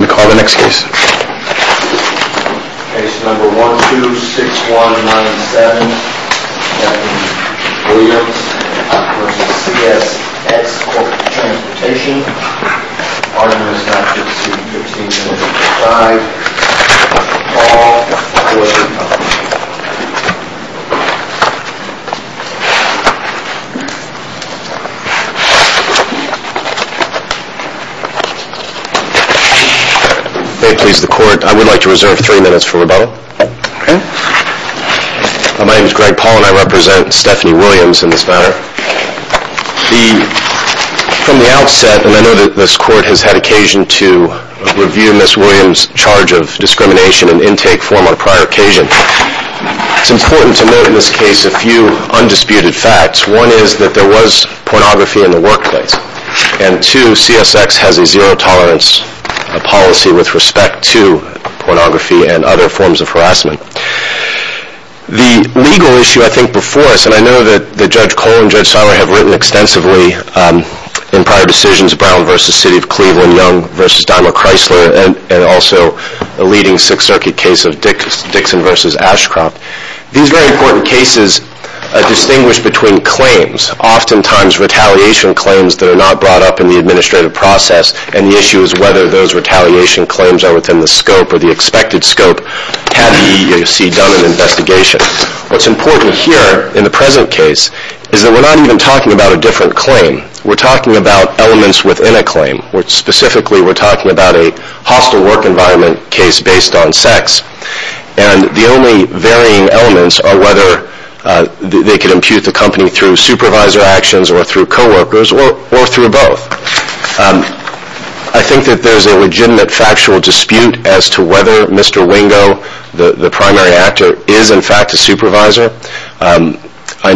Cases number 1, 2, 6, 1, 9, and 7, Williams v. CSX Corporate Transportation, 3, 4, 5, 6, 7, 8, 9, 10, 11, 12, 13, 14, 15, 16, 17, 18, 19, 20, 21, 22, 23, 24, 25, 26, 27, 28, 29, 30, 31, 32, 33, 34, 35, 36, 37, 38, 39, 40, 40, 41, 42, 43, 44, 45, 46, 47, And I know that this court has had occasion to review Ms. Williams' charge of discrimination and intake form on prior occasion. It's important to note in this case a few undisputed facts. One is that there was pornography in the workplace. And two, CSX has a zero tolerance policy with respect to pornography and other forms of harassment. The legal issue I think before us, and I know that Judge Cole and Judge Seiler have written extensively in prior decisions Brown v. City of Cleveland, Young v. Daimler Chrysler, and also a leading Sixth Circuit case of Dixon v. Ashcroft. These very important cases distinguish between claims, oftentimes retaliation claims that are not brought up in the administrative process, and the issue is whether those retaliation claims are within the scope or the expected scope had the EEOC done an investigation. What's important here in the present case is that we're not even within a claim. Specifically we're talking about a hostile work environment case based on sex. And the only varying elements are whether they could impute the company through supervisor actions or through co-workers or through both. I think that there's a legitimate factual dispute as to whether Mr. Wingo, the primary actor, is in fact a supervisor. I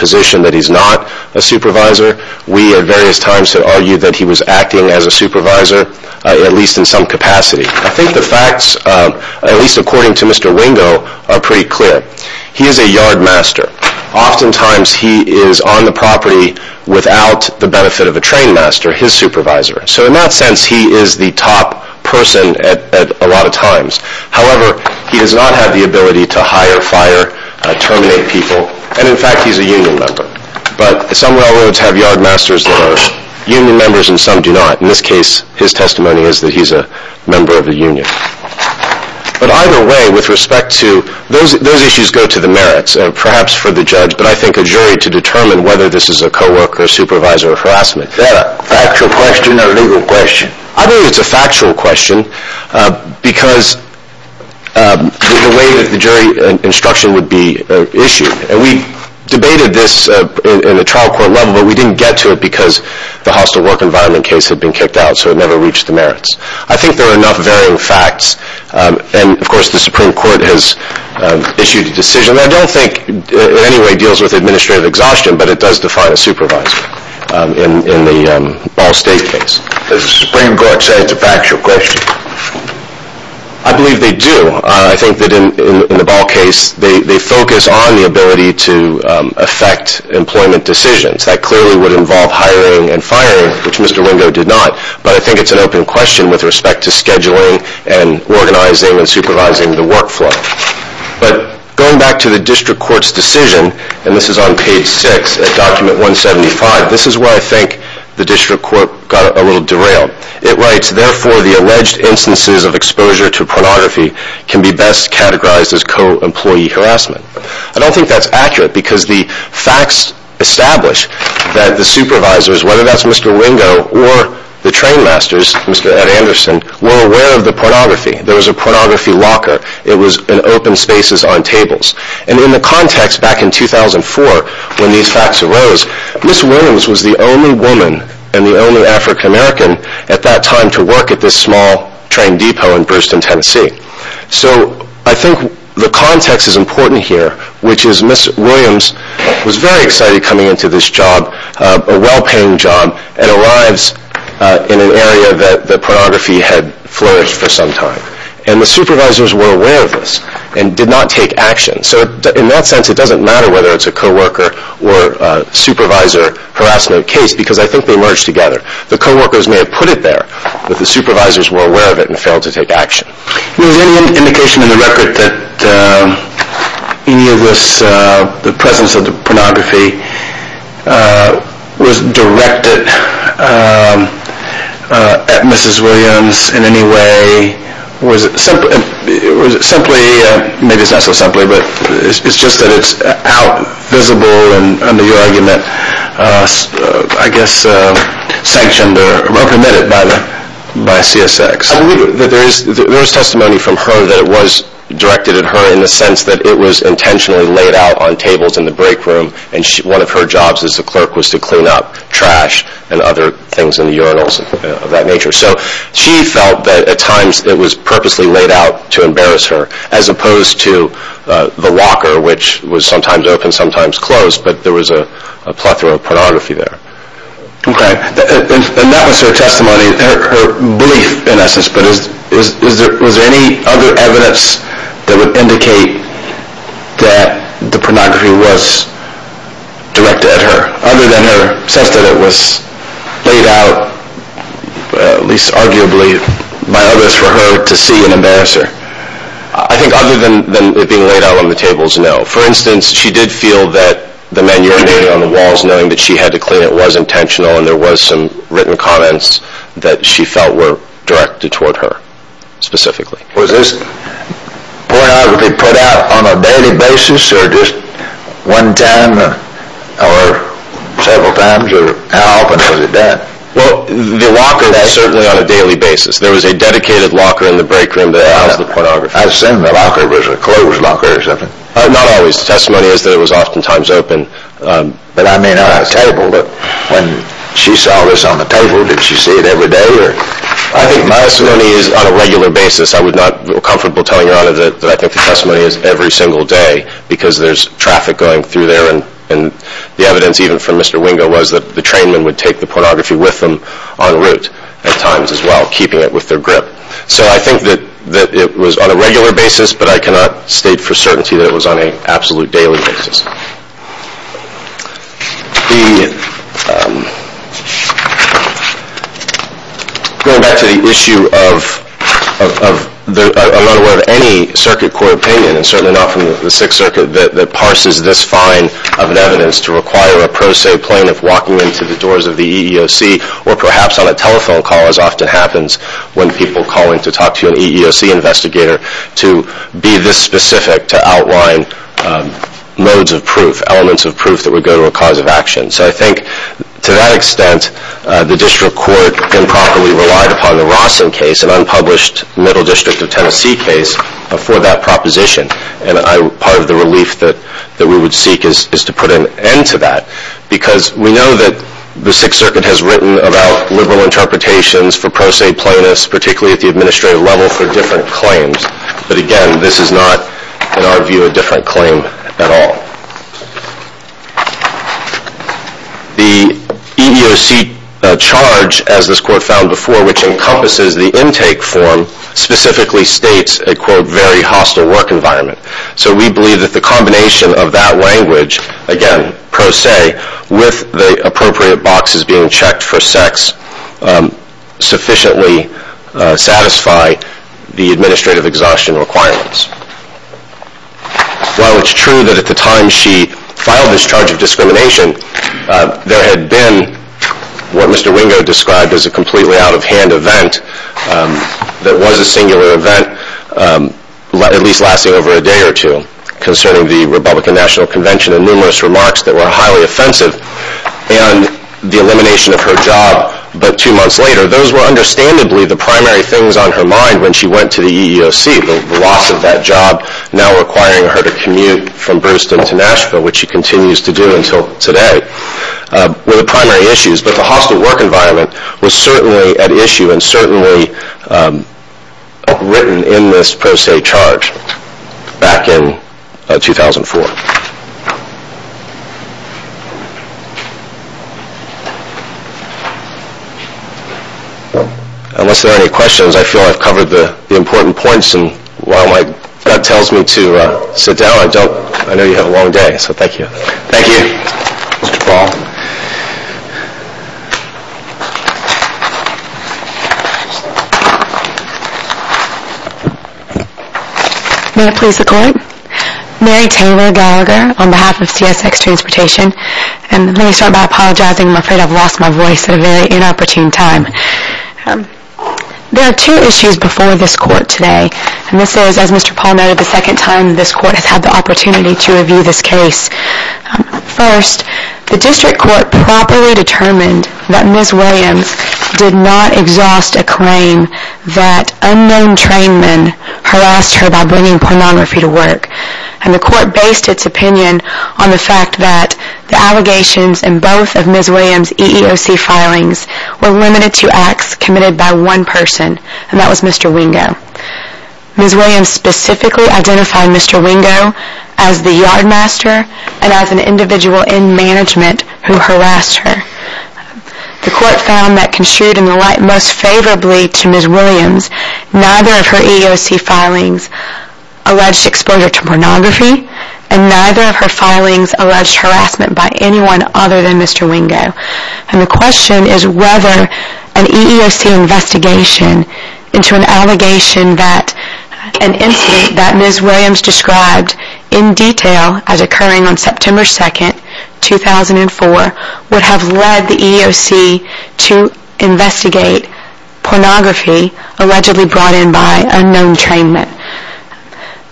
position that he's not a supervisor. We at various times have argued that he was acting as a supervisor, at least in some capacity. I think the facts, at least according to Mr. Wingo, are pretty clear. He is a yardmaster. Oftentimes he is on the property without the benefit of a trainmaster, his supervisor. So in that sense he is the top person at a lot of times. However, he does not have the ability to hire, fire, terminate people. And in fact he's a union member. But some railroads have yardmasters that are union members and some do not. In this case, his testimony is that he's a member of the union. But either way, with respect to those issues go to the merits, perhaps for the judge, but I think a jury to determine whether this is a co-worker, supervisor or harassment. Is that a factual question or a legal question? I believe it's a factual question because of the way that the jury instruction would be issued. And we debated this in the trial court level, but we didn't get to it because the hostile work environment case had been kicked out, so it never reached the merits. I think there are enough varying facts, and of course the Supreme Court has issued a decision that I don't think in any way deals with administrative exhaustion, but it does define a supervisor in the Ball State case. Does the Supreme Court say it's a factual question? I believe they do. I think that in the Ball case they focus on the ability to affect employment decisions. That clearly would involve hiring and firing, which Mr. Ringo did not, but I think it's an open question with respect to scheduling and organizing and supervising the workflow. But going back to the district court's decision, and this is on page 6 of document 175, this instances of exposure to pornography can be best categorized as co-employee harassment. I don't think that's accurate because the facts establish that the supervisors, whether that's Mr. Ringo or the trainmasters, Mr. Ed Anderson, were aware of the pornography. There was a pornography locker. It was in open spaces on tables. And in the context back in 2004 when these facts arose, Ms. Williams was the only woman and the only African American at that time to work at this small train depot in Brewston, Tennessee. So I think the context is important here, which is Ms. Williams was very excited coming into this job, a well-paying job, and arrives in an area that the pornography had flourished for some time. And the supervisors were aware of this and did not take action. So in that sense it doesn't matter whether it's a co-worker or a supervisor harassment case because I think they merged together. The co-workers may have put it there, but the supervisors were aware of it and failed to take action. Is there any indication in the record that any of this, the presence of the pornography, was directed at Mrs. Williams in any way? Or is it simply, maybe it's not so simply, but it's just that it's out, visible, and under the argument, I guess, sanctioned or reprimanded by CSX. There is testimony from her that it was directed at her in the sense that it was intentionally laid out on tables in the break room and one of her jobs as the clerk was to clean up trash and other things in the urinals of that nature. So she felt that at times it was purposely laid out to embarrass her as opposed to the locker which was sometimes open, sometimes closed, but there was a plethora of pornography there. Okay, and that was her testimony, her belief in essence, but was there any other evidence that would indicate that the pornography was directed at her other than her sense that it was laid out, at least arguably, by others for her to see and embarrass her? I think other than it being laid out on the tables, no. For instance, she did feel that the manure made on the walls, knowing that she had to clean it, was intentional and there was some written comments that she felt were directed toward her specifically. Was this pornography put out on a daily basis or just one time or several times or how often was it done? Well, the locker was certainly on a daily basis. There was a dedicated locker in the break room that housed the pornography. I assume the locker was a closed locker or something. Not always. Testimony is that it was oftentimes open, but I may not have tabled it. When she saw this on the table, did she see it every day? I think my testimony is on a regular basis. I would not feel comfortable telling her that I think the testimony is every single day because there's traffic going through there and the evidence even from Mr. Wingo was that the trainman would take the pornography with them en route at times as well, keeping it with their grip. So I think that it was on a regular basis, but I cannot state for certainty that it was on an absolute daily basis. Going back to the issue of, I'm not aware of any circuit court opinion and certainly not from the Sixth Circuit that parses this fine of an evidence to require a pro se plaintiff walking into the doors of the EEOC or perhaps on a telephone call as often happens when people call in to talk to an EEOC investigator to be this specific to outline modes of proof, elements of proof that would go to a cause of action. So I think to that extent, the district court improperly relied upon the Rawson case, an unpublished Middle District of Tennessee case for that proposition and part of the relief that we would seek is to put an end to that because we know that the Sixth Circuit has written about liberal interpretations for pro se plaintiffs, particularly at the administrative level for different claims, but again this is not in our view a different claim at all. The EEOC charge as this court found before, which encompasses the intake form, specifically states a quote, very hostile work environment. So we believe that the combination of that language, again pro se, with the appropriate boxes being checked for sex, sufficiently satisfy the administrative exhaustion requirements. While it's true that at the time she filed this charge of discrimination, there had been what Mr. Wingo described as a completely out of hand event that was a singular event, at least lasting over a day or two, concerning the Republican National Convention and numerous remarks that were highly offensive, and the elimination of her job, but two months later, those were understandably the primary things on her mind when she went to the EEOC, the loss of that job now requiring her to commute from Brewston to Nashville, which she continues to do until today, were the primary issues. But the hostile work environment was certainly at issue and certainly written in this pro se back in 2004. Unless there are any questions, I feel I've covered the important points and while my gut tells me to sit down, I know you have a long day, so thank you. Thank you. Mr. Paul. May it please the Court, Mary Taylor Gallagher, on behalf of CSX Transportation, and let me start by apologizing, I'm afraid I've lost my voice at a very inopportune time. There are two issues before this Court today, and this is, as Mr. Paul noted, the second time this Court has had the opportunity to review this case. First, the District Court properly determined that Ms. Williams did not exhaust a claim that unknown trainmen harassed her by bringing pornography to work, and the Court based its opinion on the fact that the allegations in both of Ms. Williams' EEOC filings were limited to acts committed by one person, and that was Mr. Wingo. Ms. Williams specifically identified Mr. Wingo as the yardmaster and as an individual in management who harassed her. The Court found that, construed in the light most favorably to Ms. Williams, neither of her EEOC filings alleged exposure to pornography, and neither of her filings alleged harassment by anyone other than Mr. Wingo, and the question is whether an EEOC investigation into an allegation that an incident that Ms. Williams described in detail as occurring on September 2, 2004 would have led the EEOC to investigate pornography allegedly brought in by unknown trainmen.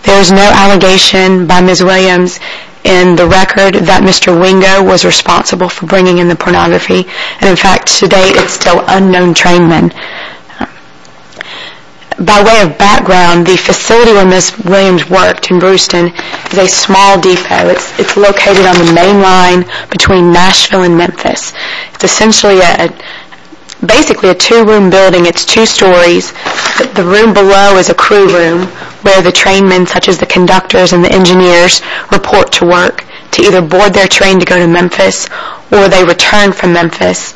There is no allegation by Ms. Williams in the record that Mr. Wingo was responsible for bringing in the pornography, and in fact to date it is still unknown trainmen. By way of background, the facility where Ms. Williams worked in Brewston is a small depot. It's located on the main line between Nashville and Memphis. It's essentially basically a two-room building. It's two stories. The room below is a crew room where the trainmen such as the conductors and the engineers report to work to either board their train to go to Memphis or they return from Memphis,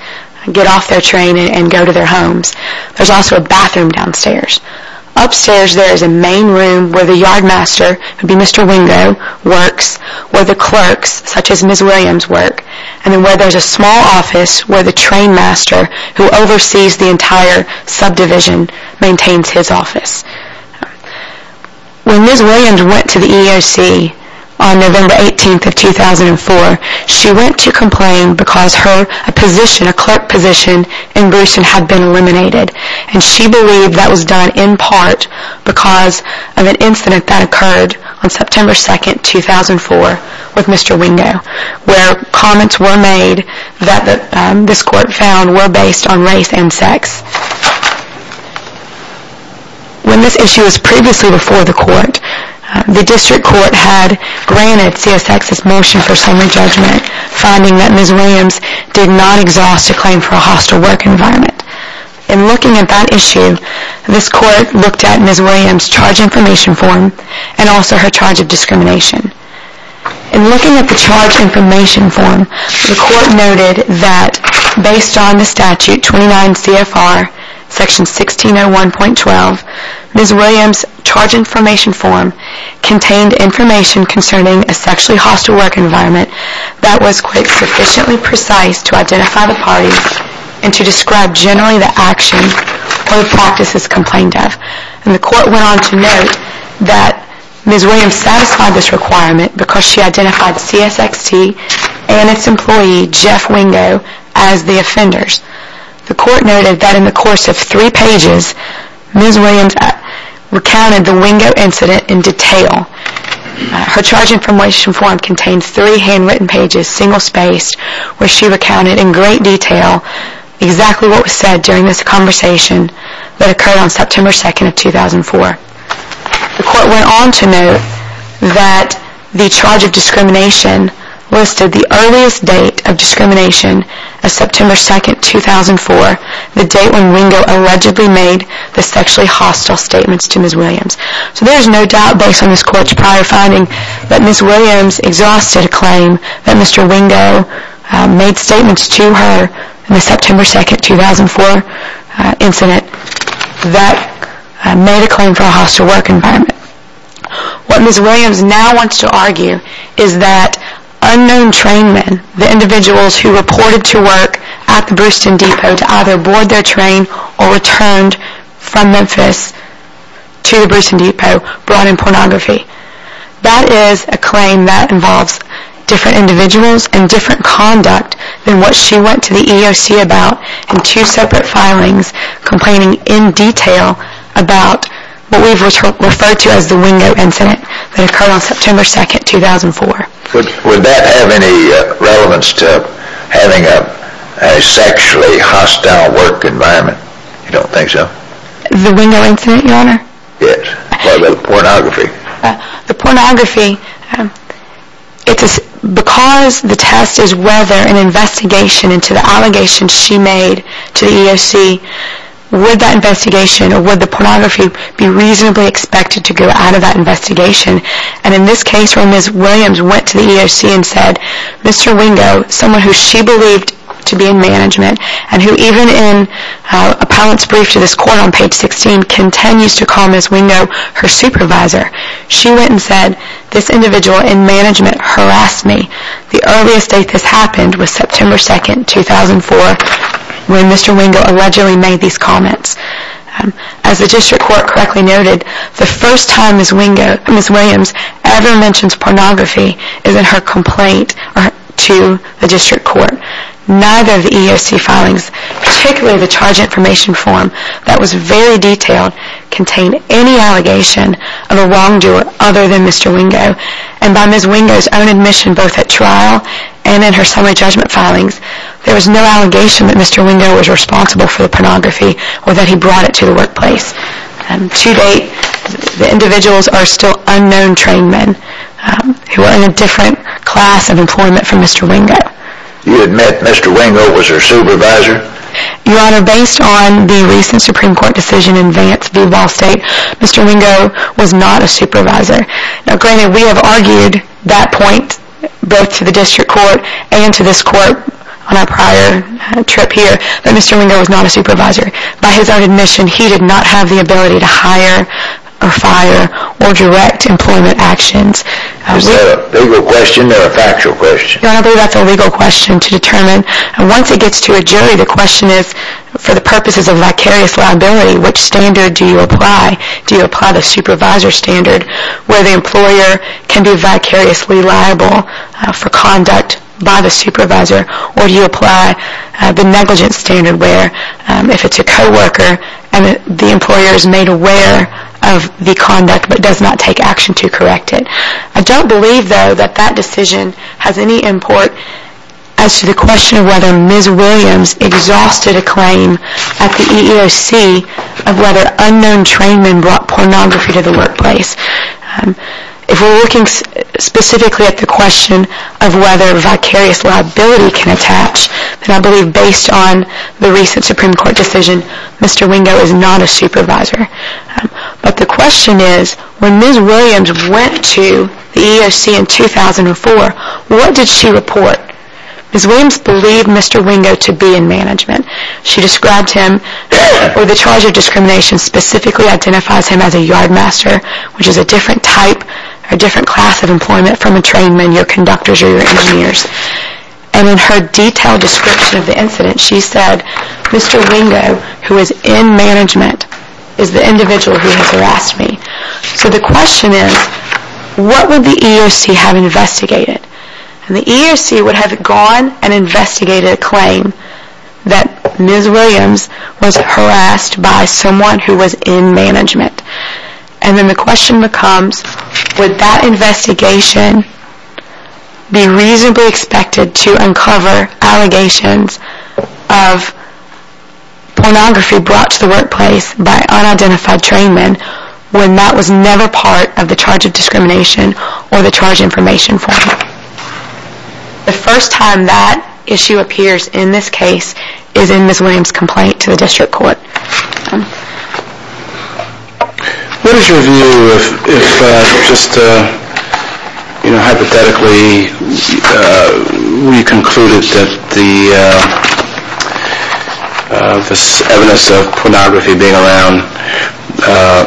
get off their train and go to their homes. There's also a bathroom downstairs. Upstairs there is a main room where the yardmaster, who would be Mr. Wingo, works, where the clerks such as Ms. Williams work, and where there's a small office where the trainmaster who oversees the entire subdivision maintains his office. When Ms. Williams went to the EEOC on November 18, 2004, she went to complain because her position, a clerk position, in Brewston had been eliminated, and she believed that was done in part because of an incident that occurred on September 2, 2004, with Mr. Wingo, where comments were made that this court found were based on race and sex. When this issue was previously before the court, the district court had granted CSX's motion for summary judgment, finding that Ms. Williams did not exhaust a claim for a hostile work environment. In looking at that issue, this court looked at Ms. Williams' charge information form and also her charge of discrimination. In looking at the charge information form, the court noted that based on the statute 29 CFR section 1601.12, Ms. Williams' charge information form contained information concerning a sexually hostile work environment that was sufficiently precise to identify the parties and to describe generally the actions or practices complained of. The court went on to note that Ms. Williams satisfied this requirement because she identified CSXT and its employee, Jeff Wingo, as the offenders. The court noted that in the course of three pages, Ms. Williams recounted the Wingo incident in detail. Her charge information form contained three handwritten pages, single-spaced, where she recounted in great detail exactly what was said during this conversation that occurred on September 2nd of 2004. The court went on to note that the charge of discrimination listed the earliest date of discrimination as September 2nd, 2004, the date when Wingo allegedly made the sexually hostile statements to Ms. Williams. So there is no doubt based on this court's prior finding that Ms. Williams exhausted a claim that Mr. Wingo made statements to her in the September 2nd, 2004 incident that made a claim for a hostile work environment. What Ms. Williams now wants to argue is that unknown train men, the individuals who reported to work at the Briston Depot to either board their train or returned from Memphis to the Briston Depot brought in pornography. That is a claim that involves different individuals and different conduct than what she went to the EEOC about in two separate filings complaining in detail about what we've referred to as the Wingo incident that occurred on September 2nd, 2004. Would that have any relevance to having a sexually hostile work environment? You don't think so? The Wingo incident, Your Honor? Yes. What about the pornography? The pornography, it's because the test is whether an investigation into the allegations she made to the EEOC, would that investigation or would the pornography be reasonably expected to go out of that investigation? And in this case where Ms. Williams went to the EEOC and said, Mr. Wingo, someone who she believed to be in management and who even in a pilot's brief to this court on page 16 continues to call Ms. Wingo her supervisor, she went and said, this individual in management harassed me. The earliest date this happened was September 2nd, 2004 when Mr. Wingo allegedly made these comments. As the district court correctly noted, the first time Ms. Williams ever mentions pornography is in her complaint to the district court. Neither of the EEOC filings, particularly the charge information form that was very detailed contained any allegation of a wrongdoer other than Mr. Wingo and by Ms. Wingo's own admission both at trial and in her summary judgment filings, there was no allegation that Mr. Wingo was responsible for the pornography or that he brought it to the workplace. To date, the individuals are still unknown trained men who are in a different class of employment from Mr. Wingo. You admit Mr. Wingo was her supervisor? Your Honor, based on the recent Supreme Court decision in Vance v. Ball State, Mr. Wingo was not a supervisor. Now granted, we have argued that point both to the district court and to this court on our prior trip here that Mr. Wingo was not a supervisor. By his own admission, he did not have the ability to hire or fire or direct employment actions. Is that a legal question or a factual question? Your Honor, I believe that's a legal question to determine and once it gets to a jury, the question is for the purposes of vicarious liability, which standard do you apply? Do you apply the supervisor standard where the employer can be vicariously liable for conduct by the supervisor or do you apply the negligence standard where if it's a co-worker and the employer is made aware of the conduct but does not take action to correct it? I don't believe though that that decision has any import as to the question of whether Ms. Williams exhausted a claim at the EEOC of whether unknown trainmen brought pornography to the workplace. If we're looking specifically at the question of whether vicarious liability can attach, then I believe based on the recent Supreme Court decision, Mr. Wingo is not a supervisor. But the question is, when Ms. Williams went to the EEOC in 2004, what did she report? Ms. Williams believed Mr. Wingo to be in management. She described him, or the charge of discrimination specifically identifies him as a yardmaster, which is a different type or different class of employment from a trainman, your conductors or your engineers. And in her detailed description of the incident, she said, Mr. Wingo, who is in management, is the individual who has harassed me. So the question is, what would the EEOC have investigated? And the EEOC would have gone and investigated a claim that Ms. Williams was harassed by someone who was in management. And then the question becomes, would that investigation be reasonably expected to uncover allegations of pornography brought to the workplace by unidentified trainmen, when that was never part of the charge of discrimination or the charge information form? The first time that issue appears in this case is in Ms. Williams' complaint to the district court. What is your view if, just hypothetically, we concluded that the evidence of pornography being around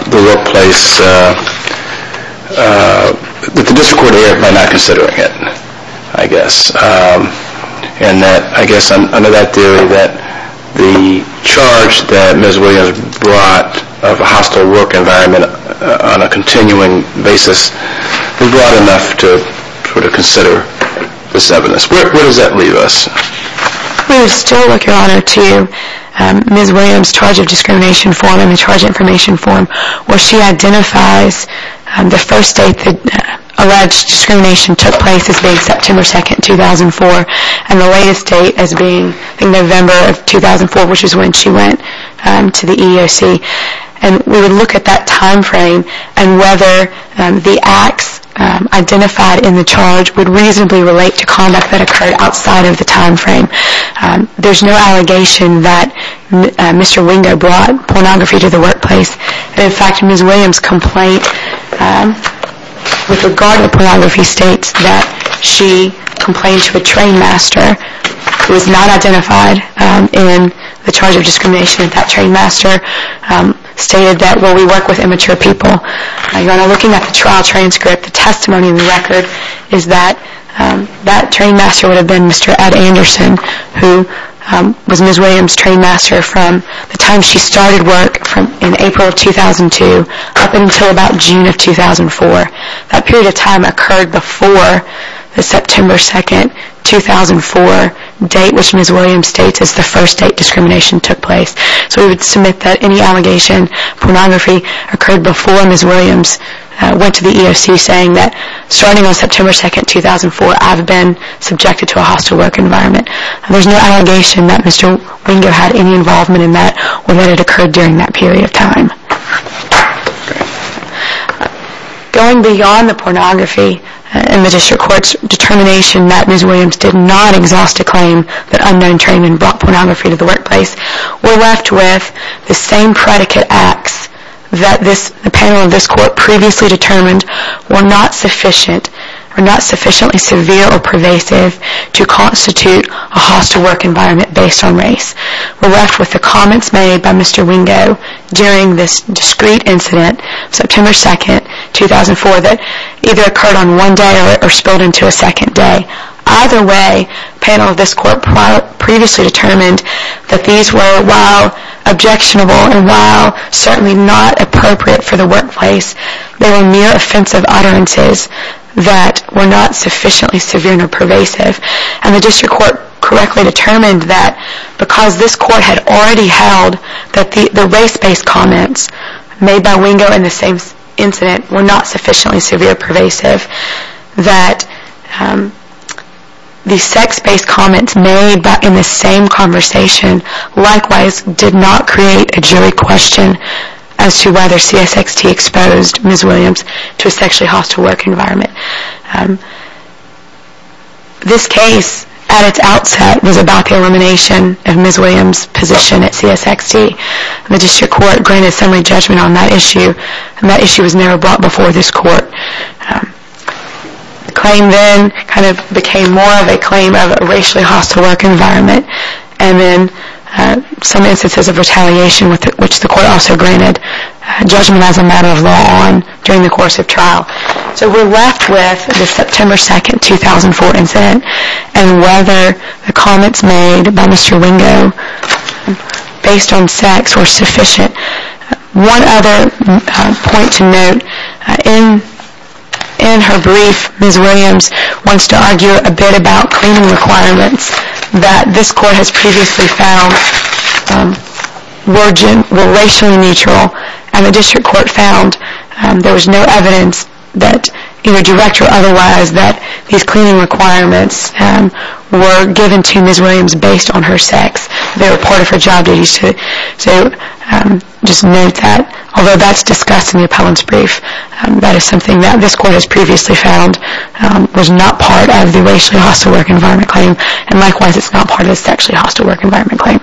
the workplace, that the district court heard by not considering it, I guess. And that, I guess, under that theory, that the charge that Ms. Williams brought of a hostile work environment on a continuing basis, we brought enough to consider this evidence. Where does that leave us? We would still look, Your Honor, to Ms. Williams' charge of discrimination form and the charge information form, where she identifies the first date that alleged discrimination took place as being September 2, 2004, and the latest date as being November of 2004, which is when she went to the EEOC. And we would look at that time frame and whether the acts identified in the charge would reasonably relate to conduct that occurred outside of the time frame. There's no allegation that Mr. Wingo brought pornography to the workplace. In fact, Ms. Williams' complaint with regard to pornography states that she complained to a train master who was not identified in the charge of discrimination. That train master stated that, well, we work with immature people. Your Honor, looking at the trial transcript, the testimony in the record is that that train master would have been Mr. Ed Anderson, who was Ms. Williams' train master from the time she started work in April of 2002 up until about June of 2004. That period of time occurred before the September 2, 2004 date, which Ms. Williams states as the first date discrimination took place. So we would submit that any allegation of pornography occurred before Ms. Williams went to the EEOC saying that, starting on September 2, 2004, I've been subjected to a hostile work environment. There's no allegation that Mr. Wingo had any involvement in that or that it occurred during that period of time. Going beyond the pornography in the District Court's determination that Ms. Williams did not exhaust a claim that unknown training brought pornography to the workplace, we're left with the same predicate acts that the panel of this Court previously determined were not sufficiently severe or pervasive to constitute a hostile work environment based on race. We're left with the comments made by Mr. Wingo during this discreet incident, September 2, 2004, that either occurred on one day or spilled into a second day. Either way, the panel of this Court previously determined that these were, while objectionable and while certainly not appropriate for the workplace, they were mere offensive utterances that were not sufficiently severe or pervasive. And the District Court correctly determined that because this Court had already held that the race-based comments made by Wingo in the same incident were not sufficiently severe or pervasive, that the sex-based comments made in the same conversation, likewise, did not create a jury question as to whether CSXT exposed Ms. Williams to a sexually hostile work environment. This case, at its outset, was about the elimination of Ms. Williams' position at CSXT. The District Court granted a summary judgment on that issue, and that issue was never brought before this Court. The claim then kind of became more of a claim of a racially hostile work environment, and then some instances of retaliation, which the Court also granted judgment as a matter of law during the course of trial. So we're left with the September 2, 2004 incident, and whether the comments made by Mr. Wingo based on sex were sufficient. One other point to note, in her brief, Ms. Williams wants to argue a bit about cleaning requirements that this Court has previously found were racially neutral, and the District Court found there was no evidence that, either direct or otherwise, that these cleaning requirements were given to Ms. Williams based on her sex. They reported for job duties to just note that, although that's discussed in the appellant's brief, that is something that this Court has previously found was not part of the racially hostile work environment claim, and likewise it's not part of the sexually hostile work environment claim.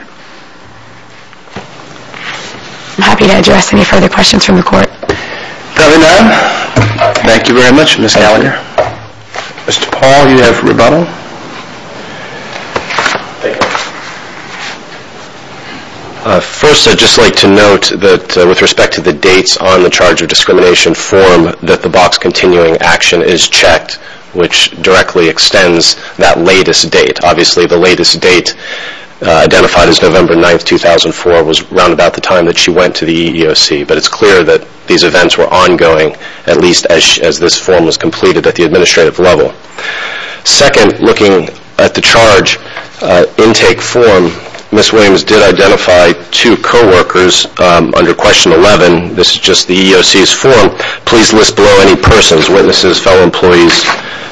I'm happy to address any further questions from the Court. Thank you very much, Ms. Gallagher. Mr. Paul, you have rebuttal. First, I'd just like to note that, with respect to the dates on the charge of discrimination form, that the box continuing action is checked, which directly extends that latest date. Obviously, the latest date, identified as November 9, 2004, was around about the time that she went to the EEOC, but it's clear that these events were ongoing, at least as this form was completed at the administrative level. Second, looking at the charge intake form, Ms. Williams did identify two co-workers under question 11, this is just the EEOC's form, please list below any persons, witnesses, fellow employees,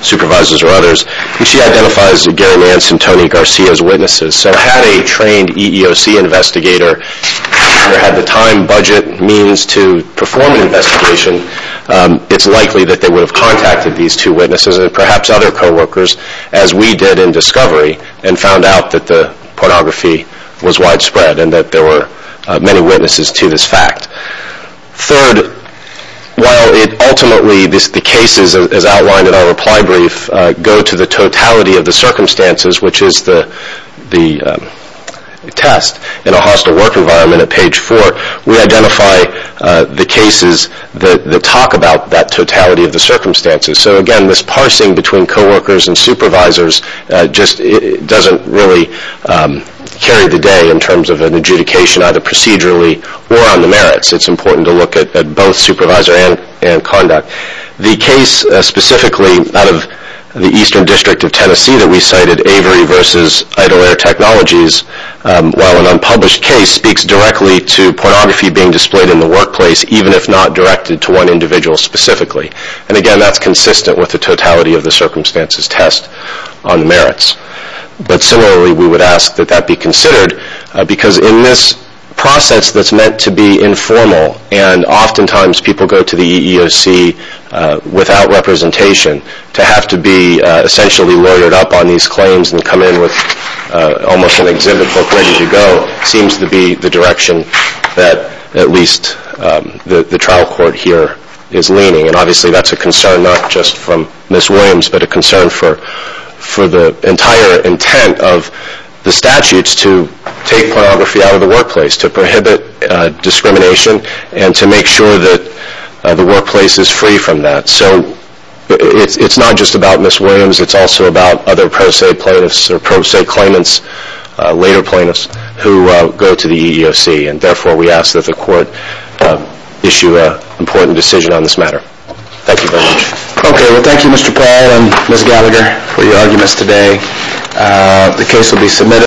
supervisors, or others, and she identifies Gary Nance and Tony Garcia as witnesses. So had a trained EEOC investigator had the time, budget, means to perform an investigation, it's likely that they would have contacted these two witnesses, and perhaps other co-workers, as we did in discovery, and found out that the pornography was widespread, and that there were many witnesses to this fact. Third, while ultimately the cases, as outlined in our reply brief, go to the totality of the circumstances, which is the test in a hostile work environment at page 4, we identify the cases that talk about that totality of the circumstances. So again, this parsing between co-workers and supervisors just doesn't really carry the day in terms of an adjudication, either procedurally or on the merits, it's important to look at both supervisor and conduct. The case, specifically, out of the Eastern District of Tennessee that we cited, Avery v. Idle Air Technologies, while an unpublished case, speaks directly to pornography being displayed in the workplace, even if not directed to one individual specifically. And again, that's consistent with the totality of the circumstances test on the merits. But similarly, we would ask that that be considered, because in this process that's meant to be informal, and oftentimes people go to the EEOC without representation, to have to be essentially lawyered up on these claims and come in with almost an exhibit book ready to go, seems to be the direction that at least the trial court here is leaning. And obviously that's a concern not just from Ms. Williams, but a concern for the entire intent of the statutes to take pornography out of the workplace, to prohibit discrimination and to make sure that the workplace is free from that. So it's not just about Ms. Williams, it's also about other pro se plaintiffs, or pro se claimants, later plaintiffs, who go to the EEOC. And therefore we ask that the court issue an important decision on this matter. Thank you very much. Okay, well thank you Mr. Powell and Ms. Gallagher for your arguments today.